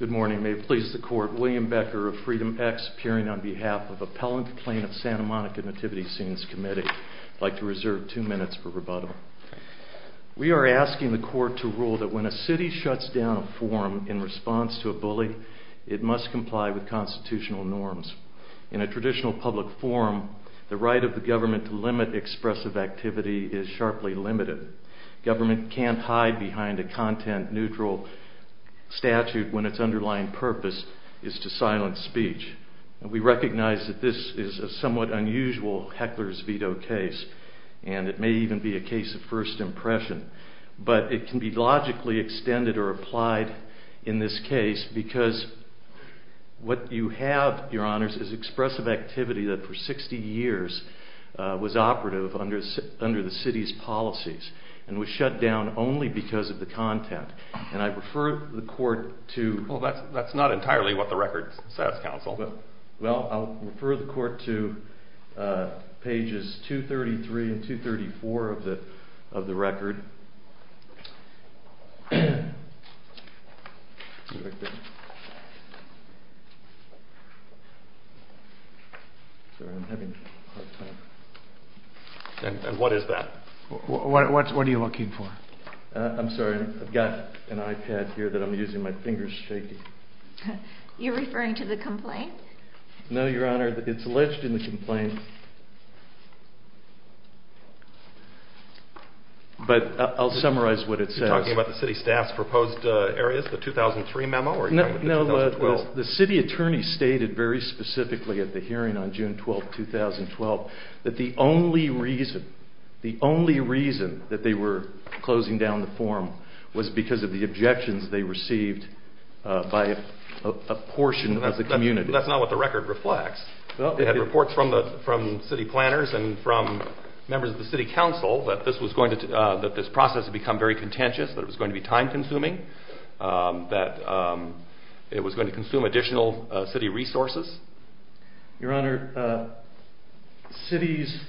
Good morning. May it please the court, William Becker of Freedom X appearing on behalf of Appellant Plain of Santa Monica Nativity Scenes Committee. I'd like to reserve two minutes for rebuttal. We are asking the court to rule that when a city shuts down a forum in response to a bully, it must comply with constitutional norms. In a traditional public forum, the right of the government to limit expressive activity is sharply limited. Government can't hide behind a content neutral statute when its underlying purpose is to silence speech. We recognize that this is a somewhat unusual heckler's veto case and it may even be a case of first impression, but it can be logically extended or applied in this case because what you have, your honors, is expressive activity that for 60 years was operative under the city's policies and was shut down only because of the content. And I refer the court to... That's not entirely what the record says, counsel. Well, I'll refer the court to pages 233 and 234 of the record. And what is that? What are you looking for? I'm sorry, I've got an iPad here that I'm using. My finger's shaking. You're referring to the complaint? No, your honor, it's alleged in the complaint, but I'll summarize what it says. You're talking about the city staff's proposed areas, the 2003 memo? No, the city attorney stated very specifically at the hearing on June 12, 2012, that the only reason, the only reason that they were closing down the forum was because of the objections they received by a portion of the community. That's not what the record reflects. They had reports from city planners and from members of the city council that this process had become very contentious, that it was going to be time-consuming, that it was going to consume additional city resources. Your honor, the city's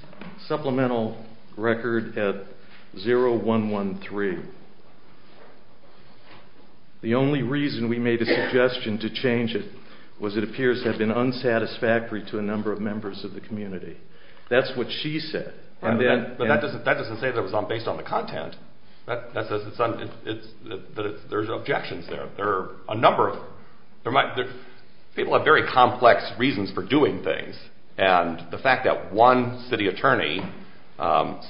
supplemental record at 0113, the only reason we made a suggestion to change it was it appears to have been unsatisfactory to a number of members of the community. That's what she said. But that doesn't say that it was based on the content. There's objections there. People have very complex reasons for doing things, and the fact that one city attorney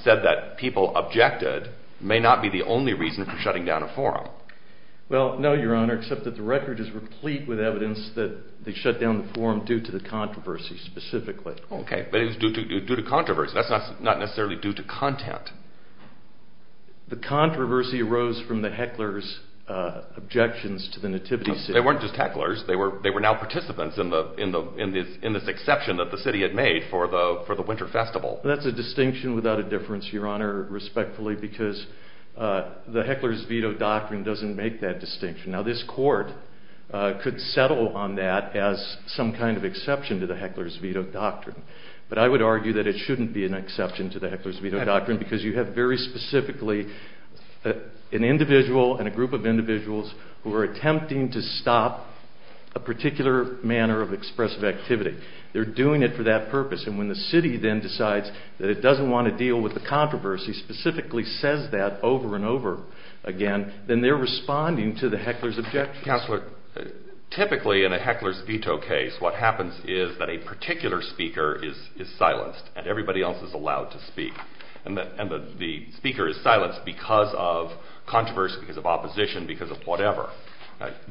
said that people objected may not be the only reason for shutting down a forum. Well, no, your honor, except that the record is replete with evidence that they shut down the forum due to the controversy, specifically. Okay, but it was due to controversy. That's not necessarily due to content. The controversy arose from the hecklers' objections to the nativity scene. They weren't just hecklers. They were now participants in this exception that the city had made for the winter festival. That's a distinction without a difference, your honor, respectfully, because the hecklers' veto doctrine doesn't make that distinction. Now, this court could settle on that as some kind of exception to the hecklers' veto doctrine, but I would argue that it shouldn't be an exception to the hecklers' veto doctrine because you have very specifically an individual and a group of individuals who are attempting to stop a particular manner of expressive activity. They're doing it for that purpose, and when the city then decides that it doesn't want to deal with the controversy, specifically says that over and over again, then they're responding to the hecklers' objections. Counselor, typically in a hecklers' veto case, what happens is that a particular speaker is silenced and everybody else is allowed to speak, and the speaker is silenced because of controversy, because of opposition, because of whatever.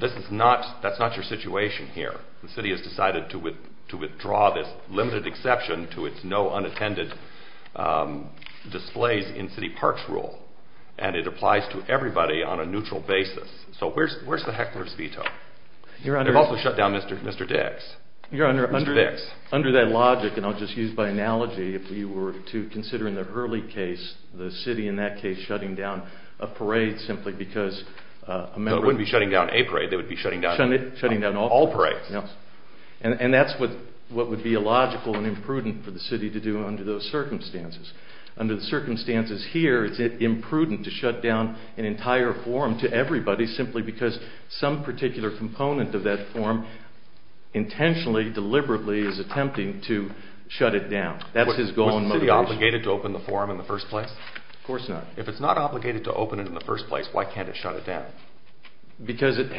That's not your situation here. The city has decided to withdraw this limited exception to its no unattended displays in a neutral basis. So where's the hecklers' veto? They've also shut down Mr. Dix. Your honor, under that logic, and I'll just use by analogy, if we were to consider in the early case, the city in that case shutting down a parade simply because... They wouldn't be shutting down a parade. They would be shutting down all parades. And that's what would be illogical and imprudent for the city to do under those circumstances. Under the circumstances here, it's imprudent to shut down an entire forum to everybody simply because some particular component of that forum intentionally, deliberately is attempting to shut it down. That's his goal and motivation. Was the city obligated to open the forum in the first place? Of course not. If it's not obligated to open it in the first place, why can't it shut it down? Because it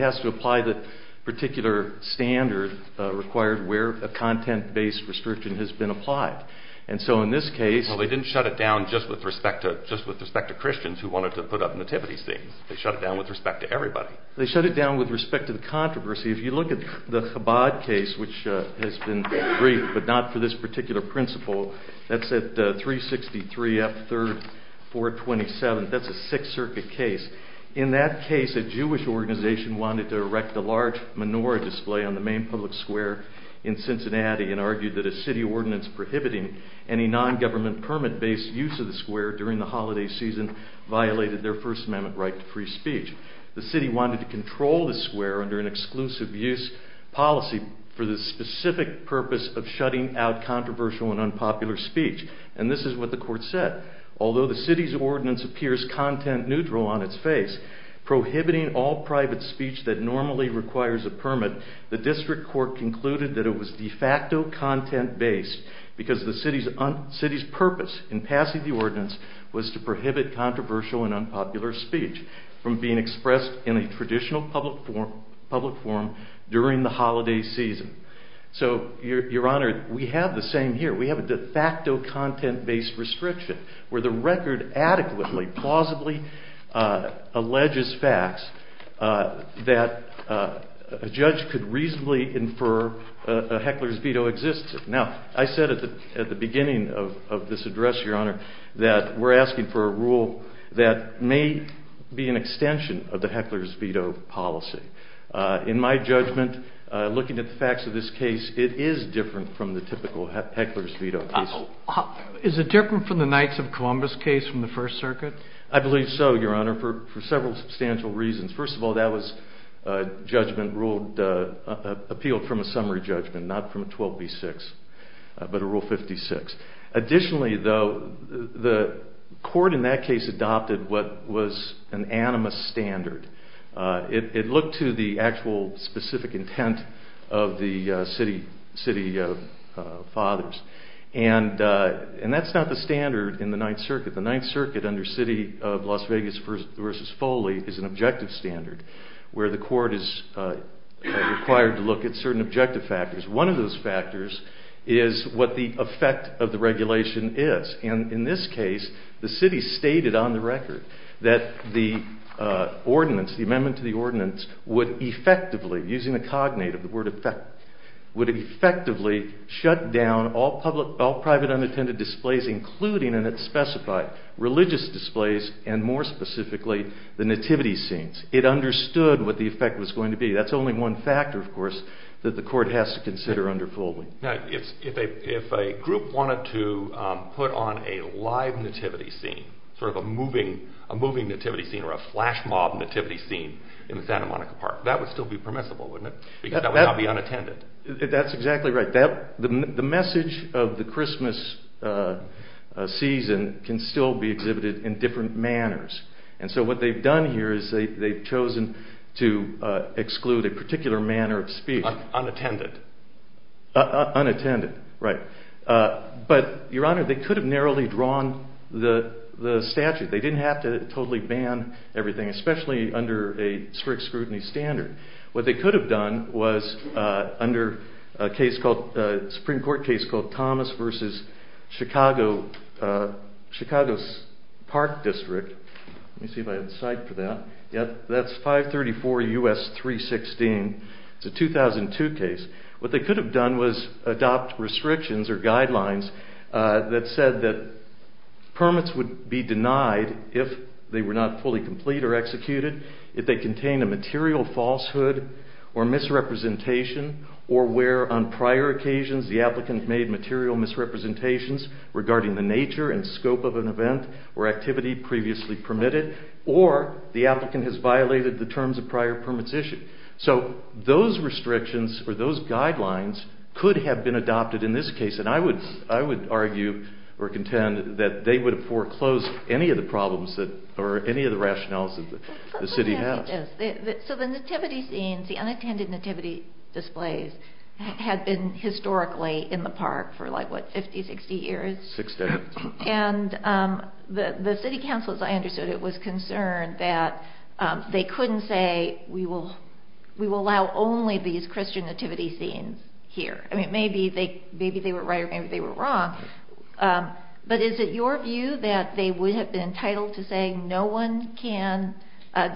has to apply the particular standard required where a content-based restriction has been applied. And so in this case... Well, they didn't shut it down just with respect to Christians who wanted to put up Nativity scenes. They shut it down with respect to everybody. They shut it down with respect to the controversy. If you look at the Chabad case, which has been briefed, but not for this particular principle, that's at 363 F 3rd 427. That's a Sixth Circuit case. In that case, a Jewish organization wanted to erect a large menorah display on the main public square in Cincinnati and argued that a city ordinance prohibiting any non-government permit-based use of the square during the holiday season violated their First Amendment right to free speech. The city wanted to control the square under an exclusive use policy for the specific purpose of shutting out controversial and unpopular speech. And this is what the court said. Although the city's ordinance appears content-neutral on its face, prohibiting all private speech that normally requires a permit, the district court concluded that it was de facto content-based because the city's purpose in passing the ordinance was to prohibit controversial and unpopular speech from being expressed in a traditional public forum during the holiday season. So, Your Honor, we have the same here. We have a de facto content-based restriction where the record adequately, plausibly alleges facts that a judge could reasonably infer a heckler's veto existed. Now, I said at the beginning of this address, Your Honor, that we're asking for a rule that may be an extension of the heckler's veto policy. In my judgment, looking at the facts of this case, it is different from the typical heckler's veto case. Is it different from the Knights of Columbus case from the First Circuit? I believe so, Your Honor. For several substantial reasons. First of all, that was a judgment ruled, appealed from a summary judgment, not from a 12B6, but a Rule 56. Additionally, though, the court in that case adopted what was an animus standard. It looked to the actual specific intent of the city fathers. And that's not the standard in the Ninth Circuit. The Ninth Circuit under City of Las Vegas v. Foley is an objective standard where the court is required to look at certain objective factors. One of those factors is what the effect of the regulation is. And in this case, the city stated on the record that the ordinance, the amendment to the ordinance would effectively, using the cognate of the word effect, would effectively shut down all private unattended displays, including, and it specified, religious displays, and more specifically, the nativity scenes. It understood what the effect was going to be. That's only one factor, of course, that the court has to consider under Foley. Now, if a group wanted to put on a live nativity scene, sort of a moving nativity scene or a flash mob nativity scene in Santa Monica Park, that would still be permissible, wouldn't it? Because that would not be unattended. That's exactly right. The message of the Christmas season can still be exhibited in different manners. And so what they've done here is they've chosen to exclude a particular manner of speech. Unattended. Unattended, right. But, Your Honor, they could have narrowly drawn the statute. They didn't have to totally ban everything, especially under a strict scrutiny standard. What they could have done was, under a case called, a Supreme Court case called Thomas v. Chicago, Chicago's Park District. Let me see if I have the site for that. Yeah, that's 534 U.S. 316. It's a 2002 case. What they could have done was adopt restrictions or guidelines that said that permits would be denied if they were not fully complete or executed. If they contain a material falsehood or misrepresentation or where on prior occasions the applicant made material misrepresentations regarding the nature and scope of an event or activity previously permitted or the applicant has violated the terms of prior permits issued. So those restrictions or those guidelines could have been adopted in this case. And I would argue or contend that they would have foreclosed any of the problems or any of the rationales that the city has. So the nativity scenes, the unattended nativity displays had been historically in the park for like, what, 50, 60 years? Six decades. And the city council, as I understood it, was concerned that they couldn't say we will allow only these Christian nativity scenes here. I mean, maybe they were right or maybe they were wrong. But is it your view that they would have been entitled to say no one can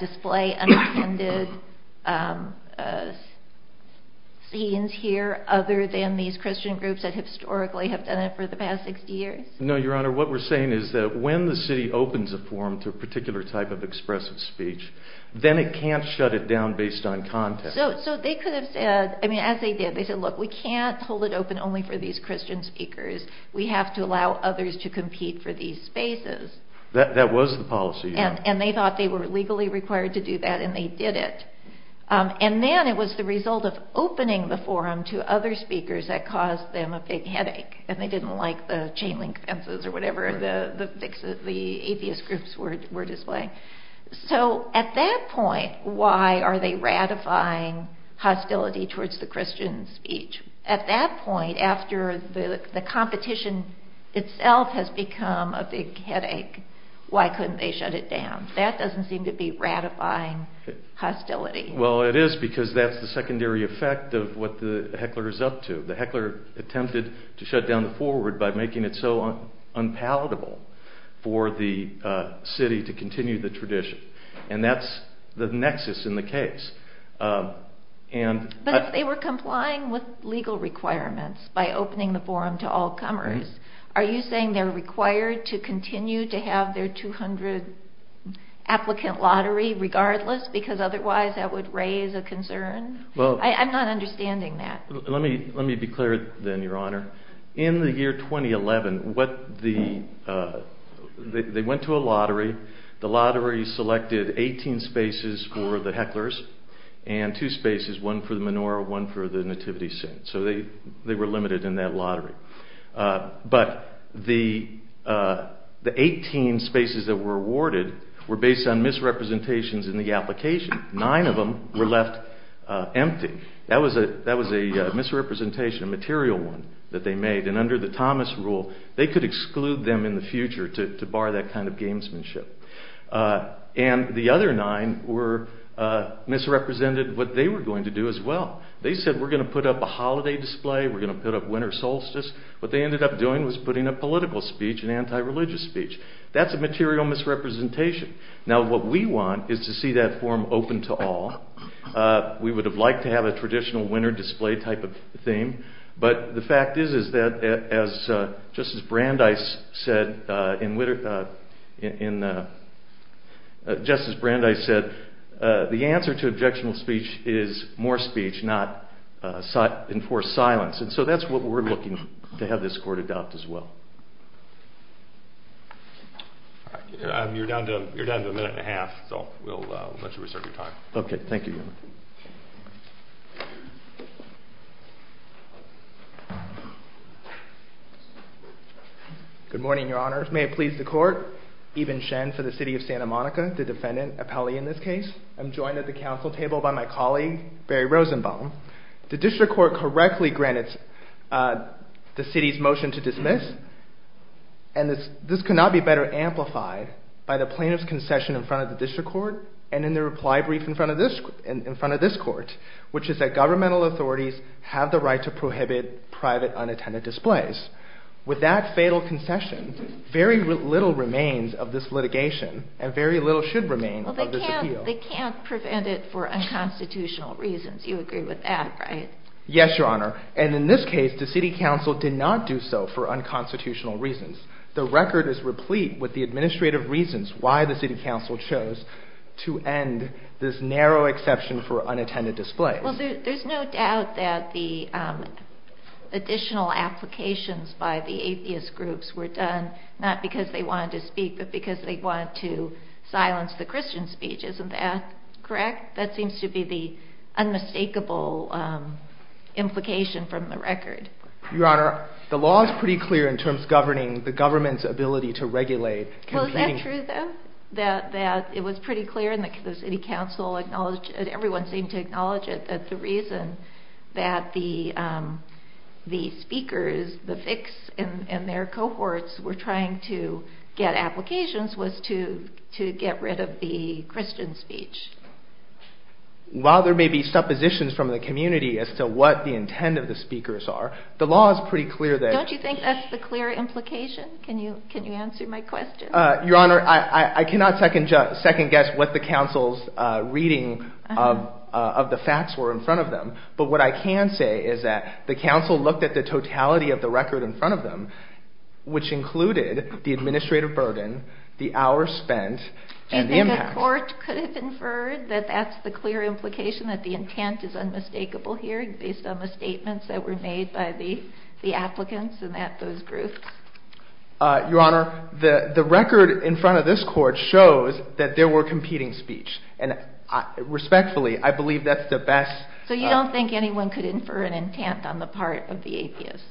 display unattended scenes here other than these Christian groups that historically have done it for the past 60 years? No, Your Honor. What we're saying is that when the city opens a forum to a particular type of expressive speech, then it can't shut it down based on context. So they could have said, I mean, as they did, they said, look, we can't hold it open only for these Christian speakers. We have to allow others to compete for these spaces. That was the policy. And they thought they were legally required to do that and they did it. And then it was the result of opening the forum to other speakers that caused them a big headache and they didn't like the chain link fences or whatever the atheist groups were displaying. So at that point, why are they ratifying hostility towards the Christian speech? At that point, after the competition itself has become a big headache, why couldn't they shut it down? That doesn't seem to be ratifying hostility. Well, it is because that's the secondary effect of what the heckler is up to. The heckler attempted to shut down the forward by making it so unpalatable for the city to continue the tradition. And that's the nexus in the case. But if they were complying with legal requirements by opening the forum to all comers, are you saying they're required to continue to have their 200 applicant lottery regardless because otherwise that would raise a concern? I'm not understanding that. Let me be clear then, Your Honor. In the year 2011, they went to a lottery. The lottery selected 18 spaces for the hecklers and two spaces, one for the menorah, one for the nativity scene. So they were limited in that lottery. But the 18 spaces that were awarded were based on misrepresentations in the application. Nine of them were left empty. That was a misrepresentation, a material one that they made. And under the Thomas rule, they could exclude them in the future to bar that kind of gamesmanship. And the other nine misrepresented what they were going to do as well. They said we're going to put up a holiday display, we're going to put up winter solstice. What they ended up doing was putting up political speech and anti-religious speech. That's a material misrepresentation. Now what we want is to see that forum open to all. We would have liked to have a traditional winter display type of thing. But the fact is that, just as Brandeis said, the answer to objectionable speech is more speech, not enforced silence. And so that's what we're looking to have this court adopt as well. You're down to a minute and a half, so we'll let you restart your time. Okay, thank you. Good morning, Your Honor. May it please the court, Ibn Shen for the City of Santa Monica, the defendant, Apelli in this case. I'm joined at the council table by my colleague, Barry Rosenbaum. The district court correctly granted the city's motion to dismiss. And this could not be better amplified by the plaintiff's concession in front of the district court and in the reply brief in front of this court, which is that governmental authorities have the right to prohibit private unattended displays. With that fatal concession, very little remains of this litigation and very little should remain of this appeal. They can't prevent it for unconstitutional reasons. You agree with that, right? Yes, Your Honor. And in this case, the city council did not do so for unconstitutional reasons. The record is replete with the administrative reasons why the city council chose to end this narrow exception for unattended displays. Well, there's no doubt that the additional applications by the atheist groups were done not because they wanted to speak, but because they wanted to silence the Christian speech. Isn't that correct? That seems to be the unmistakable implication from the record. Your Honor, the law is pretty clear in terms of governing the government's ability to regulate. Well, is that true, then? That it was pretty clear and the city council acknowledged, and everyone seemed to acknowledge it, that the reason that the speakers, the FICs and their cohorts were trying to get applications was to get rid of the Christian speech. While there may be suppositions from the community as to what the intent of the speakers are, the law is pretty clear that... Don't you think that's the clear implication? Can you answer my question? Your Honor, I cannot second guess what the council's reading of the facts were in front of them, but what I can say is that the council looked at the totality of the record in front of them, which included the administrative burden, the hours spent, and the impact. The court could have inferred that that's the clear implication, that the intent is unmistakable here based on the statements that were made by the applicants and those groups. Your Honor, the record in front of this court shows that there were competing speeches, and respectfully, I believe that's the best... So you don't think anyone could infer an intent on the part of the atheists?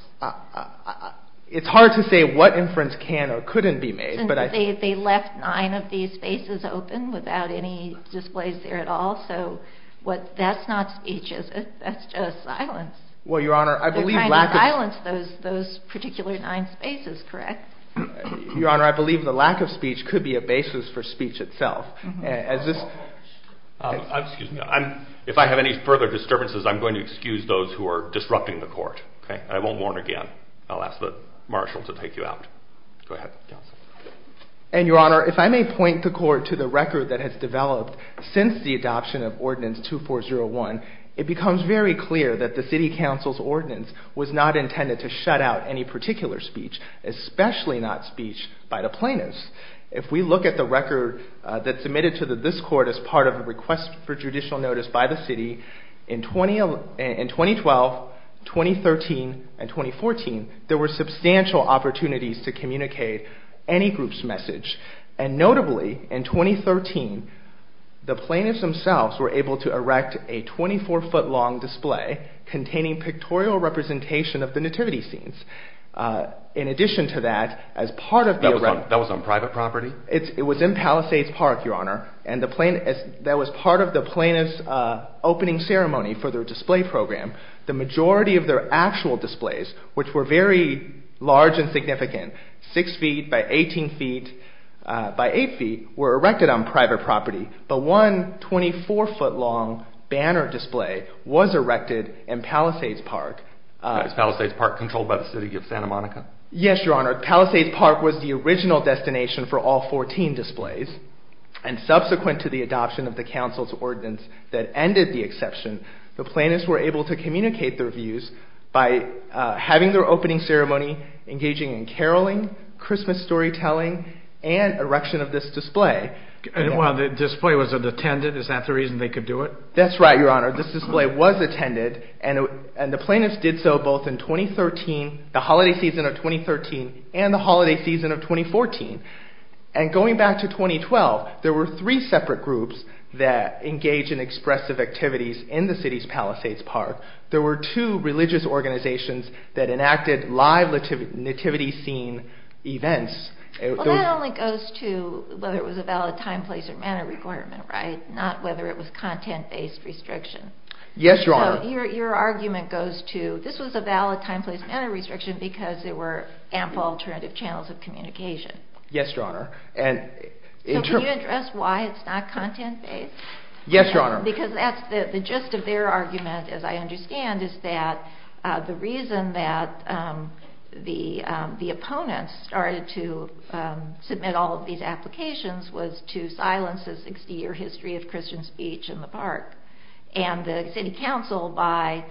It's hard to say what inference can or couldn't be made, but I... They left nine of these spaces open without any displays there at all, so that's not speech, is it? That's just silence. Well, Your Honor, I believe... They kind of silenced those particular nine spaces, correct? Your Honor, I believe the lack of speech could be a basis for speech itself. Excuse me. If I have any further disturbances, I'm going to excuse those who are disrupting the court, okay? I won't warn again. I'll ask the marshal to take you out. Go ahead, counsel. And, Your Honor, if I may point the court to the record that has developed since the adoption of Ordinance 2401, it becomes very clear that the city council's ordinance was not intended to shut out any particular speech, especially not speech by the plaintiffs. If we look at the record that's submitted to this court as part of a request for judicial notice by the city, in 2012, 2013, and 2014, there were substantial opportunities to communicate any group's message. And notably, in 2013, the plaintiffs themselves were able to erect a 24-foot-long display containing pictorial representation of the nativity scenes. In addition to that, as part of the... That was on private property? It was in Palisades Park, Your Honor. That was part of the plaintiff's opening ceremony for their display program. The majority of their actual displays, which were very large and significant, 6 feet by 18 feet by 8 feet, were erected on private property. But one 24-foot-long banner display was erected in Palisades Park. Was Palisades Park controlled by the city of Santa Monica? Yes, Your Honor. Palisades Park was the original destination for all 14 displays. And subsequent to the adoption of the council's ordinance that ended the exception, the plaintiffs were able to communicate their views by having their opening ceremony, engaging in caroling, Christmas storytelling, and erection of this display. And while the display was unattended, is that the reason they could do it? That's right, Your Honor. This display was attended, and the plaintiffs did so both in 2013, the holiday season of 2013, and the holiday season of 2014. And going back to 2012, there were three separate groups that engaged in expressive activities in the city's Palisades Park. There were two religious organizations that enacted live nativity scene events. Well, that only goes to whether it was a valid time, place, or manner requirement, right? Not whether it was content-based restriction. Yes, Your Honor. So your argument goes to, this was a valid time, place, manner restriction because there were ample alternative channels of communication. Yes, Your Honor. So can you address why it's not content-based? Yes, Your Honor. Because that's the gist of their argument, as I understand, is that the reason that the opponents started to submit all of these applications was to silence the 60-year history of Christian speech in the park. And the city council, by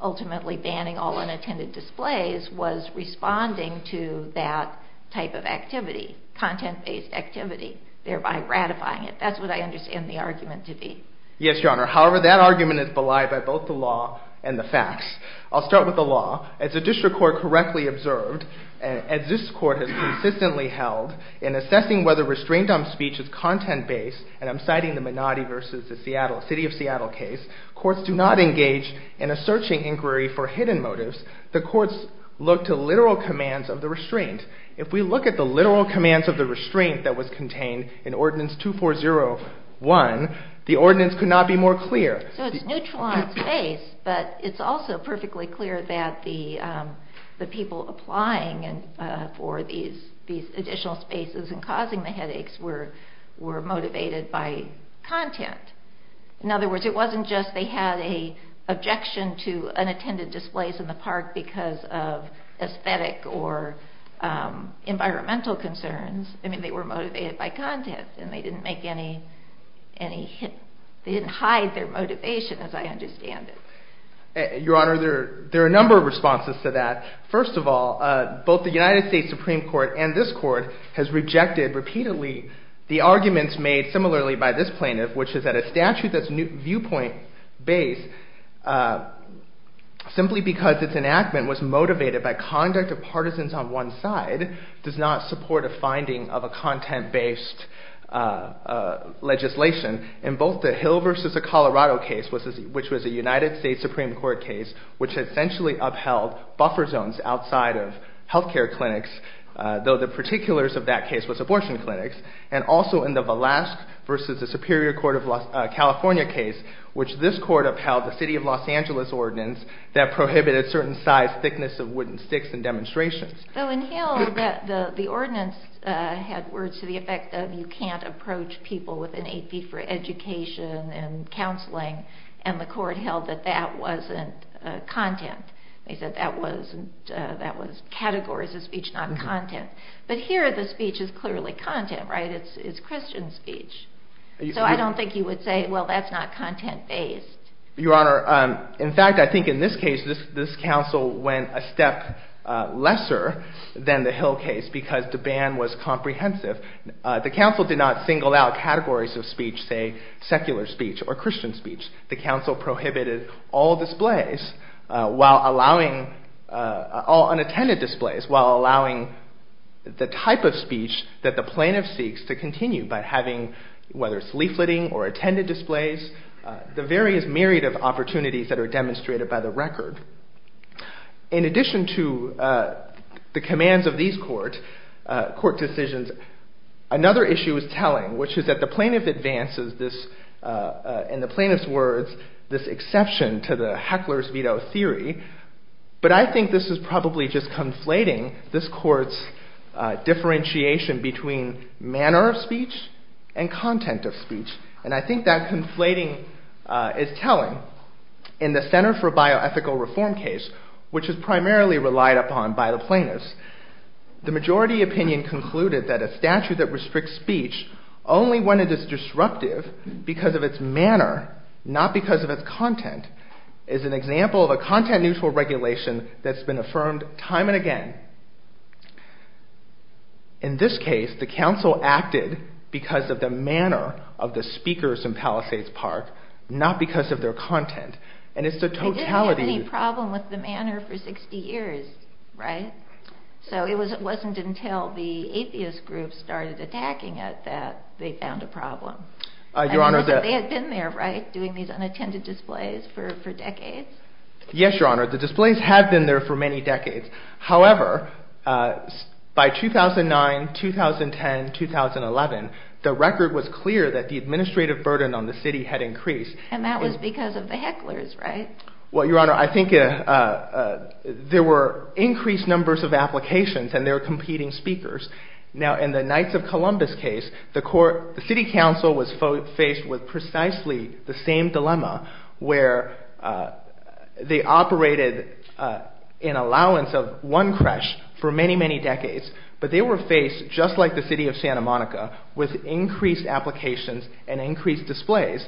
ultimately banning all unattended displays, was responding to that type of activity, content-based activity, thereby ratifying it. That's what I understand the argument to be. Yes, Your Honor. However, that argument is belied by both the law and the facts. I'll start with the law. As the district court correctly observed, as this court has consistently held, in assessing whether restraint on speech is content-based, and I'm citing the Menotti v. City of Seattle case, courts do not engage in a searching inquiry for hidden motives. The courts look to literal commands of the restraint. If we look at the literal commands of the restraint that was contained in Ordinance 2401, the ordinance could not be more clear. So it's neutral on its face, but it's also perfectly clear that the people applying for these additional spaces and causing the headaches were motivated by content. In other words, it wasn't just they had an objection to unattended displays in the park because of aesthetic or environmental concerns. They were motivated by content, and they didn't hide their motivation, as I understand it. Your Honor, there are a number of responses to that. First of all, both the United States Supreme Court and this court has rejected repeatedly the arguments made similarly by this plaintiff, which is that a statute that's viewpoint-based simply because its enactment was motivated by conduct of partisans on one side does not support a finding of a content-based legislation. In both the Hill v. Colorado case, which was a United States Supreme Court case, which essentially upheld buffer zones outside of health care clinics, though the particulars of that case was abortion clinics, and also in the Velasque v. Superior Court of California case, which this court upheld the City of Los Angeles ordinance that prohibited certain size thickness of wooden sticks in demonstrations. In Hill, the ordinance had words to the effect of you can't approach people with an AP for education and counseling, and the court held that that wasn't content. They said that was categories of speech, not content. But here, the speech is clearly content, right? It's Christian speech. So I don't think you would say, well, that's not content-based. Your Honor, in fact, I think in this case, this counsel went a step lesser than the Hill case because the ban was comprehensive. The counsel did not single out categories of speech, say secular speech or Christian speech. The counsel prohibited all displays while allowing all unattended displays while allowing the type of speech that the plaintiff seeks to continue by having, whether it's leafleting or attended displays, the various myriad of opportunities that are demonstrated by the record. In addition to the commands of these court decisions, another issue is telling, which is that the plaintiff advances this, in the plaintiff's words, this exception to the heckler's veto theory. But I think this is probably just conflating this court's differentiation between manner of speech and content of speech. And I think that conflating is telling. In the Center for Bioethical Reform case, which is primarily relied upon by the plaintiffs, the majority opinion concluded that a statute that restricts speech only when it is disruptive because of its manner, not because of its content, is an example of a content-neutral regulation that's been affirmed time and again. In this case, the counsel acted because of the manner of the speakers in Palisades Park, not because of their content. They didn't have any problem with the manner for 60 years, right? So it wasn't until the atheist groups started attacking it that they found a problem. They had been there, right, doing these unattended displays for decades? Yes, Your Honor, the displays had been there for many decades. However, by 2009, 2010, 2011, the record was clear that the administrative burden on the city had increased. And that was because of the hecklers, right? Well, Your Honor, I think there were increased numbers of applications and there were competing speakers. Now, in the Knights of Columbus case, the city council was faced with precisely the same dilemma where they operated in allowance of one creche for many, many decades, but they were faced, just like the city of Santa Monica, with increased applications and increased displays.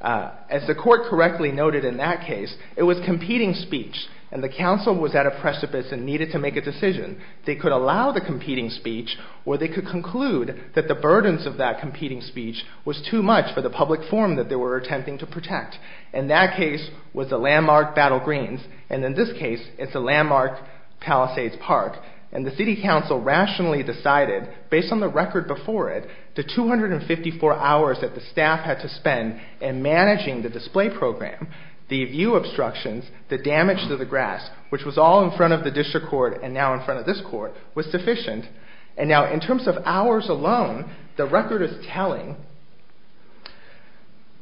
As the court correctly noted in that case, it was competing speech, and the counsel was at a precipice and needed to make a decision. They could allow the competing speech or they could conclude that the burdens of that competing speech was too much for the public forum that they were attempting to protect. And that case was the landmark Battle Greens, and in this case, it's the landmark Palisades Park. And the city council rationally decided, based on the record before it, the 254 hours that the staff had to spend in managing the display program, the view obstructions, the damage to the grass, which was all in front of the district court and now in front of this court, was sufficient. And now, in terms of hours alone, the record is telling.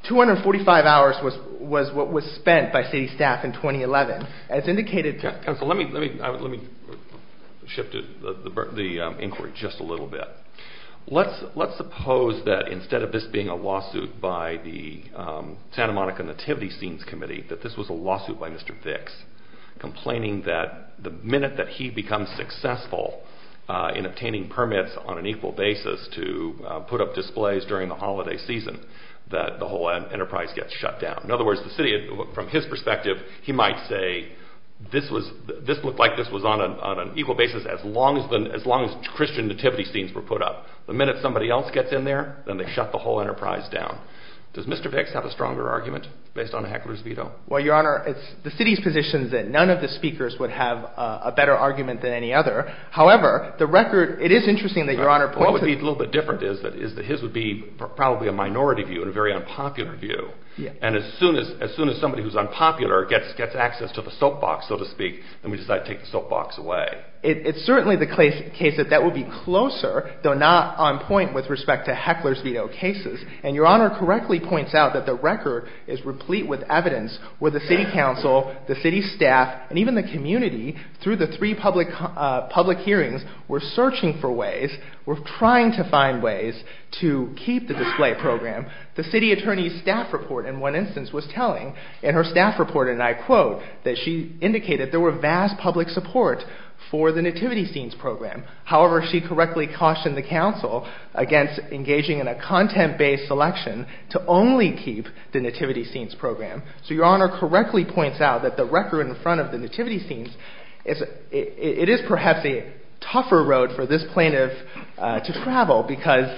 245 hours was what was spent by city staff in 2011. Counsel, let me shift the inquiry just a little bit. Let's suppose that instead of this being a lawsuit by the Santa Monica Nativity Scenes Committee, that this was a lawsuit by Mr. Vicks, complaining that the minute that he becomes successful in obtaining permits on an equal basis to put up displays during the holiday season, that the whole enterprise gets shut down. In other words, the city, from his perspective, he might say, this looked like this was on an equal basis as long as Christian nativity scenes were put up. The minute somebody else gets in there, then they shut the whole enterprise down. Does Mr. Vicks have a stronger argument based on Heckler's veto? Well, Your Honor, it's the city's position that none of the speakers would have a better argument than any other. However, the record, it is interesting that Your Honor points to... What would be a little bit different is that his would be probably a minority view, and a very unpopular view. And as soon as somebody who's unpopular gets access to the soapbox, so to speak, then we decide to take the soapbox away. It's certainly the case that that would be closer, though not on point with respect to Heckler's veto cases. And Your Honor correctly points out that the record is replete with evidence where the city council, the city staff, and even the community, through the three public hearings, were searching for ways, were trying to find ways to keep the display program. The city attorney's staff report, in one instance, was telling, in her staff report, and I quote, that she indicated there were vast public support for the Nativity Scenes program. However, she correctly cautioned the council against engaging in a content-based selection to only keep the Nativity Scenes program. So Your Honor correctly points out that the record in front of the Nativity Scenes, it is perhaps a tougher road for this plaintiff to travel because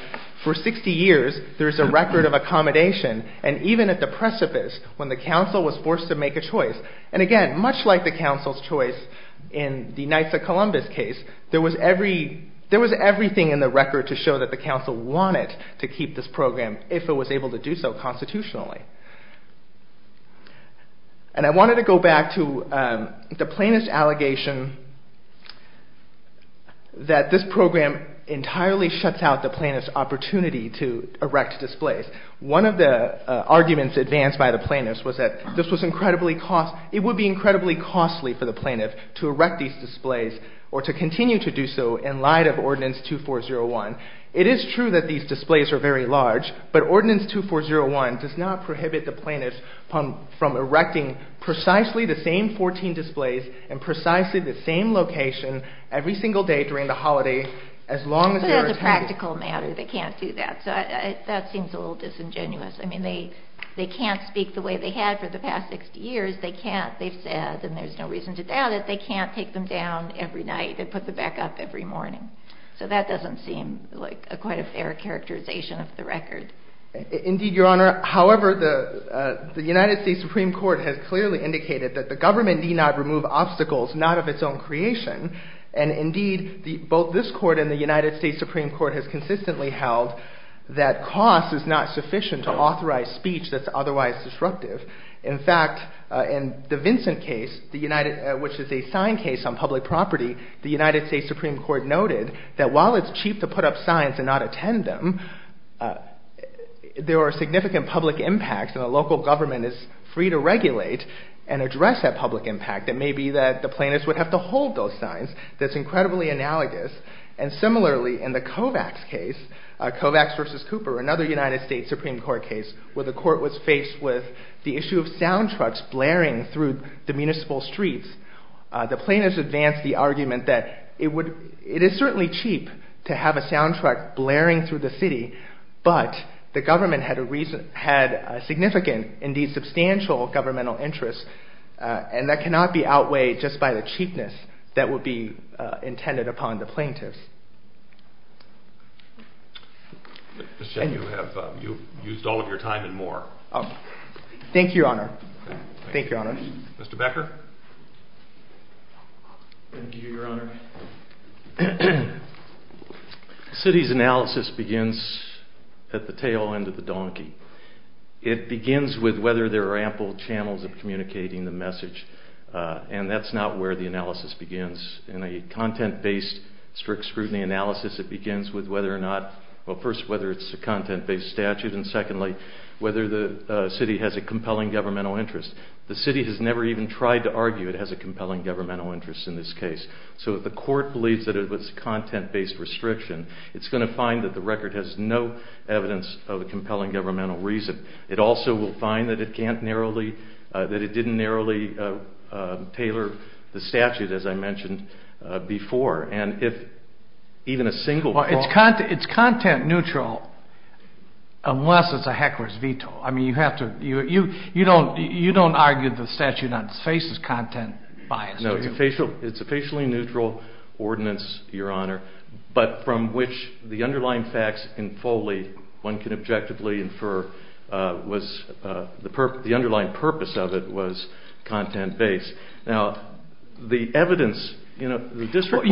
for 60 years, there's a record of accommodation, and even at the precipice, when the council was forced to make a choice, and again, much like the council's choice in the Knights of Columbus case, there was everything in the record to show that the council wanted to keep this program if it was able to do so constitutionally. And I wanted to go back to the plaintiff's allegation that this program entirely shuts out the plaintiff's opportunity to erect displays. One of the arguments advanced by the plaintiff was that it would be incredibly costly for the plaintiff to erect these displays or to continue to do so in light of Ordinance 2401. It is true that these displays are very large, but Ordinance 2401 does not prohibit the plaintiff from erecting precisely the same 14 displays in precisely the same location every single day during the holiday as long as there are... But as a practical matter, they can't do that. So that seems a little disingenuous. I mean, they can't speak the way they had for the past 60 years. They've said, and there's no reason to doubt it, they can't take them down every night and put them back up every morning. So that doesn't seem like quite a fair characterization of the record. Indeed, Your Honor. However, the United States Supreme Court has clearly indicated that the government need not remove obstacles not of its own creation. And indeed, both this court and the United States Supreme Court has consistently held that cost is not sufficient to authorize speech that's otherwise disruptive. In fact, in the Vincent case, which is a signed case on public property, the United States Supreme Court noted that while it's cheap to put up signs and not attend them, there are significant public impacts and the local government is free to regulate and address that public impact. It may be that the plaintiffs would have to hold those signs. That's incredibly analogous. And similarly, in the Kovacs case, Kovacs v. Cooper, another United States Supreme Court case where the court was faced with the issue of sound trucks blaring through the municipal streets, the plaintiffs advanced the argument that it is certainly cheap to have a sound truck blaring through the city, but the government had significant, indeed substantial, governmental interest and that cannot be outweighed just by the cheapness that would be intended upon the plaintiffs. You've used all of your time and more. Thank you, Your Honor. Thank you, Your Honor. Mr. Becker? Thank you, Your Honor. The city's analysis begins at the tail end of the donkey. It begins with whether there are ample channels of communicating the message and that's not where the analysis begins. In a content-based strict scrutiny analysis, it begins with whether or not, well, first, whether it's a content-based statute and, secondly, whether the city has a compelling governmental interest. The city has never even tried to argue it has a compelling governmental interest in this case. So if the court believes that it was a content-based restriction, it's going to find that the record has no evidence of a compelling governmental reason. It also will find that it didn't narrowly tailor the statute, as I mentioned before, and if even a single... Well, it's content-neutral unless it's a heckler's veto. I mean, you don't argue the statute faces content bias. No, it's a facially neutral ordinance, Your Honor, but from which the underlying facts can fully, one can objectively infer, the underlying purpose of it was content-based. Now, the evidence in a district court...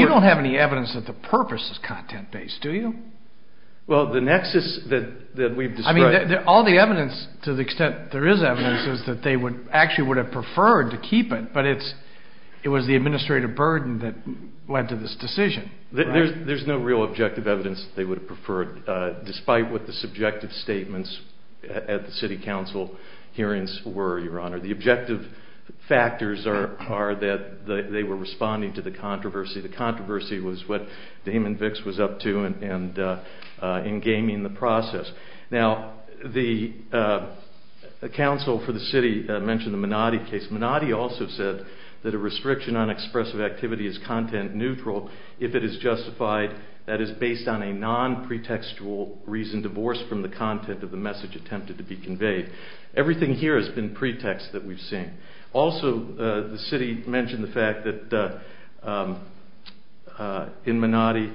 Well, the nexus that we've described... I mean, all the evidence, to the extent there is evidence, is that they actually would have preferred to keep it, but it was the administrative burden that led to this decision. There's no real objective evidence they would have preferred, despite what the subjective statements at the city council hearings were, Your Honor. The objective factors are that they were responding to the controversy. The controversy was what Damon Vicks was up to in gaming the process. Now, the council for the city mentioned the Menotti case. Menotti also said that a restriction on expressive activity is content-neutral if it is justified that is based on a non-pretextual reason divorced from the content of the message attempted to be conveyed. Everything here has been pretext that we've seen. Also, the city mentioned the fact that in Menotti,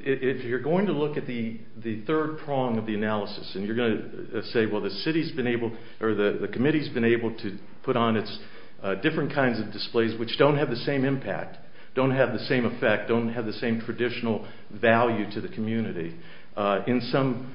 if you're going to look at the third prong of the analysis, and you're going to say, well, the city's been able, or the committee's been able to put on its different kinds of displays which don't have the same impact, don't have the same effect, don't have the same traditional value to the community, in some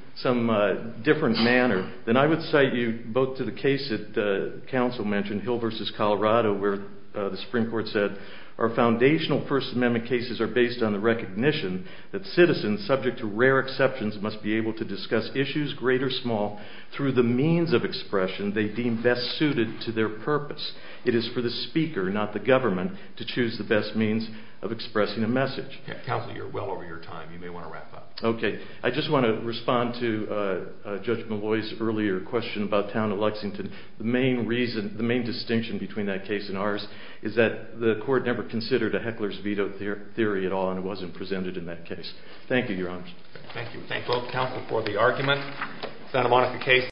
different manner, then I would cite you both to the case that the council mentioned, Hill v. Colorado, where the Supreme Court said, Our foundational First Amendment cases are based on the recognition that citizens subject to rare exceptions must be able to discuss issues, great or small, through the means of expression they deem best suited to their purpose. It is for the speaker, not the government, to choose the best means of expressing a message. Counselor, you're well over your time. You may want to wrap up. Okay. I just want to respond to Judge Malloy's earlier question about town of Lexington. The main distinction between that case and ours is that the court never considered a heckler's veto theory at all, and it wasn't presented in that case. Thank you, Your Honor. Thank you. Thank both counsel for the argument.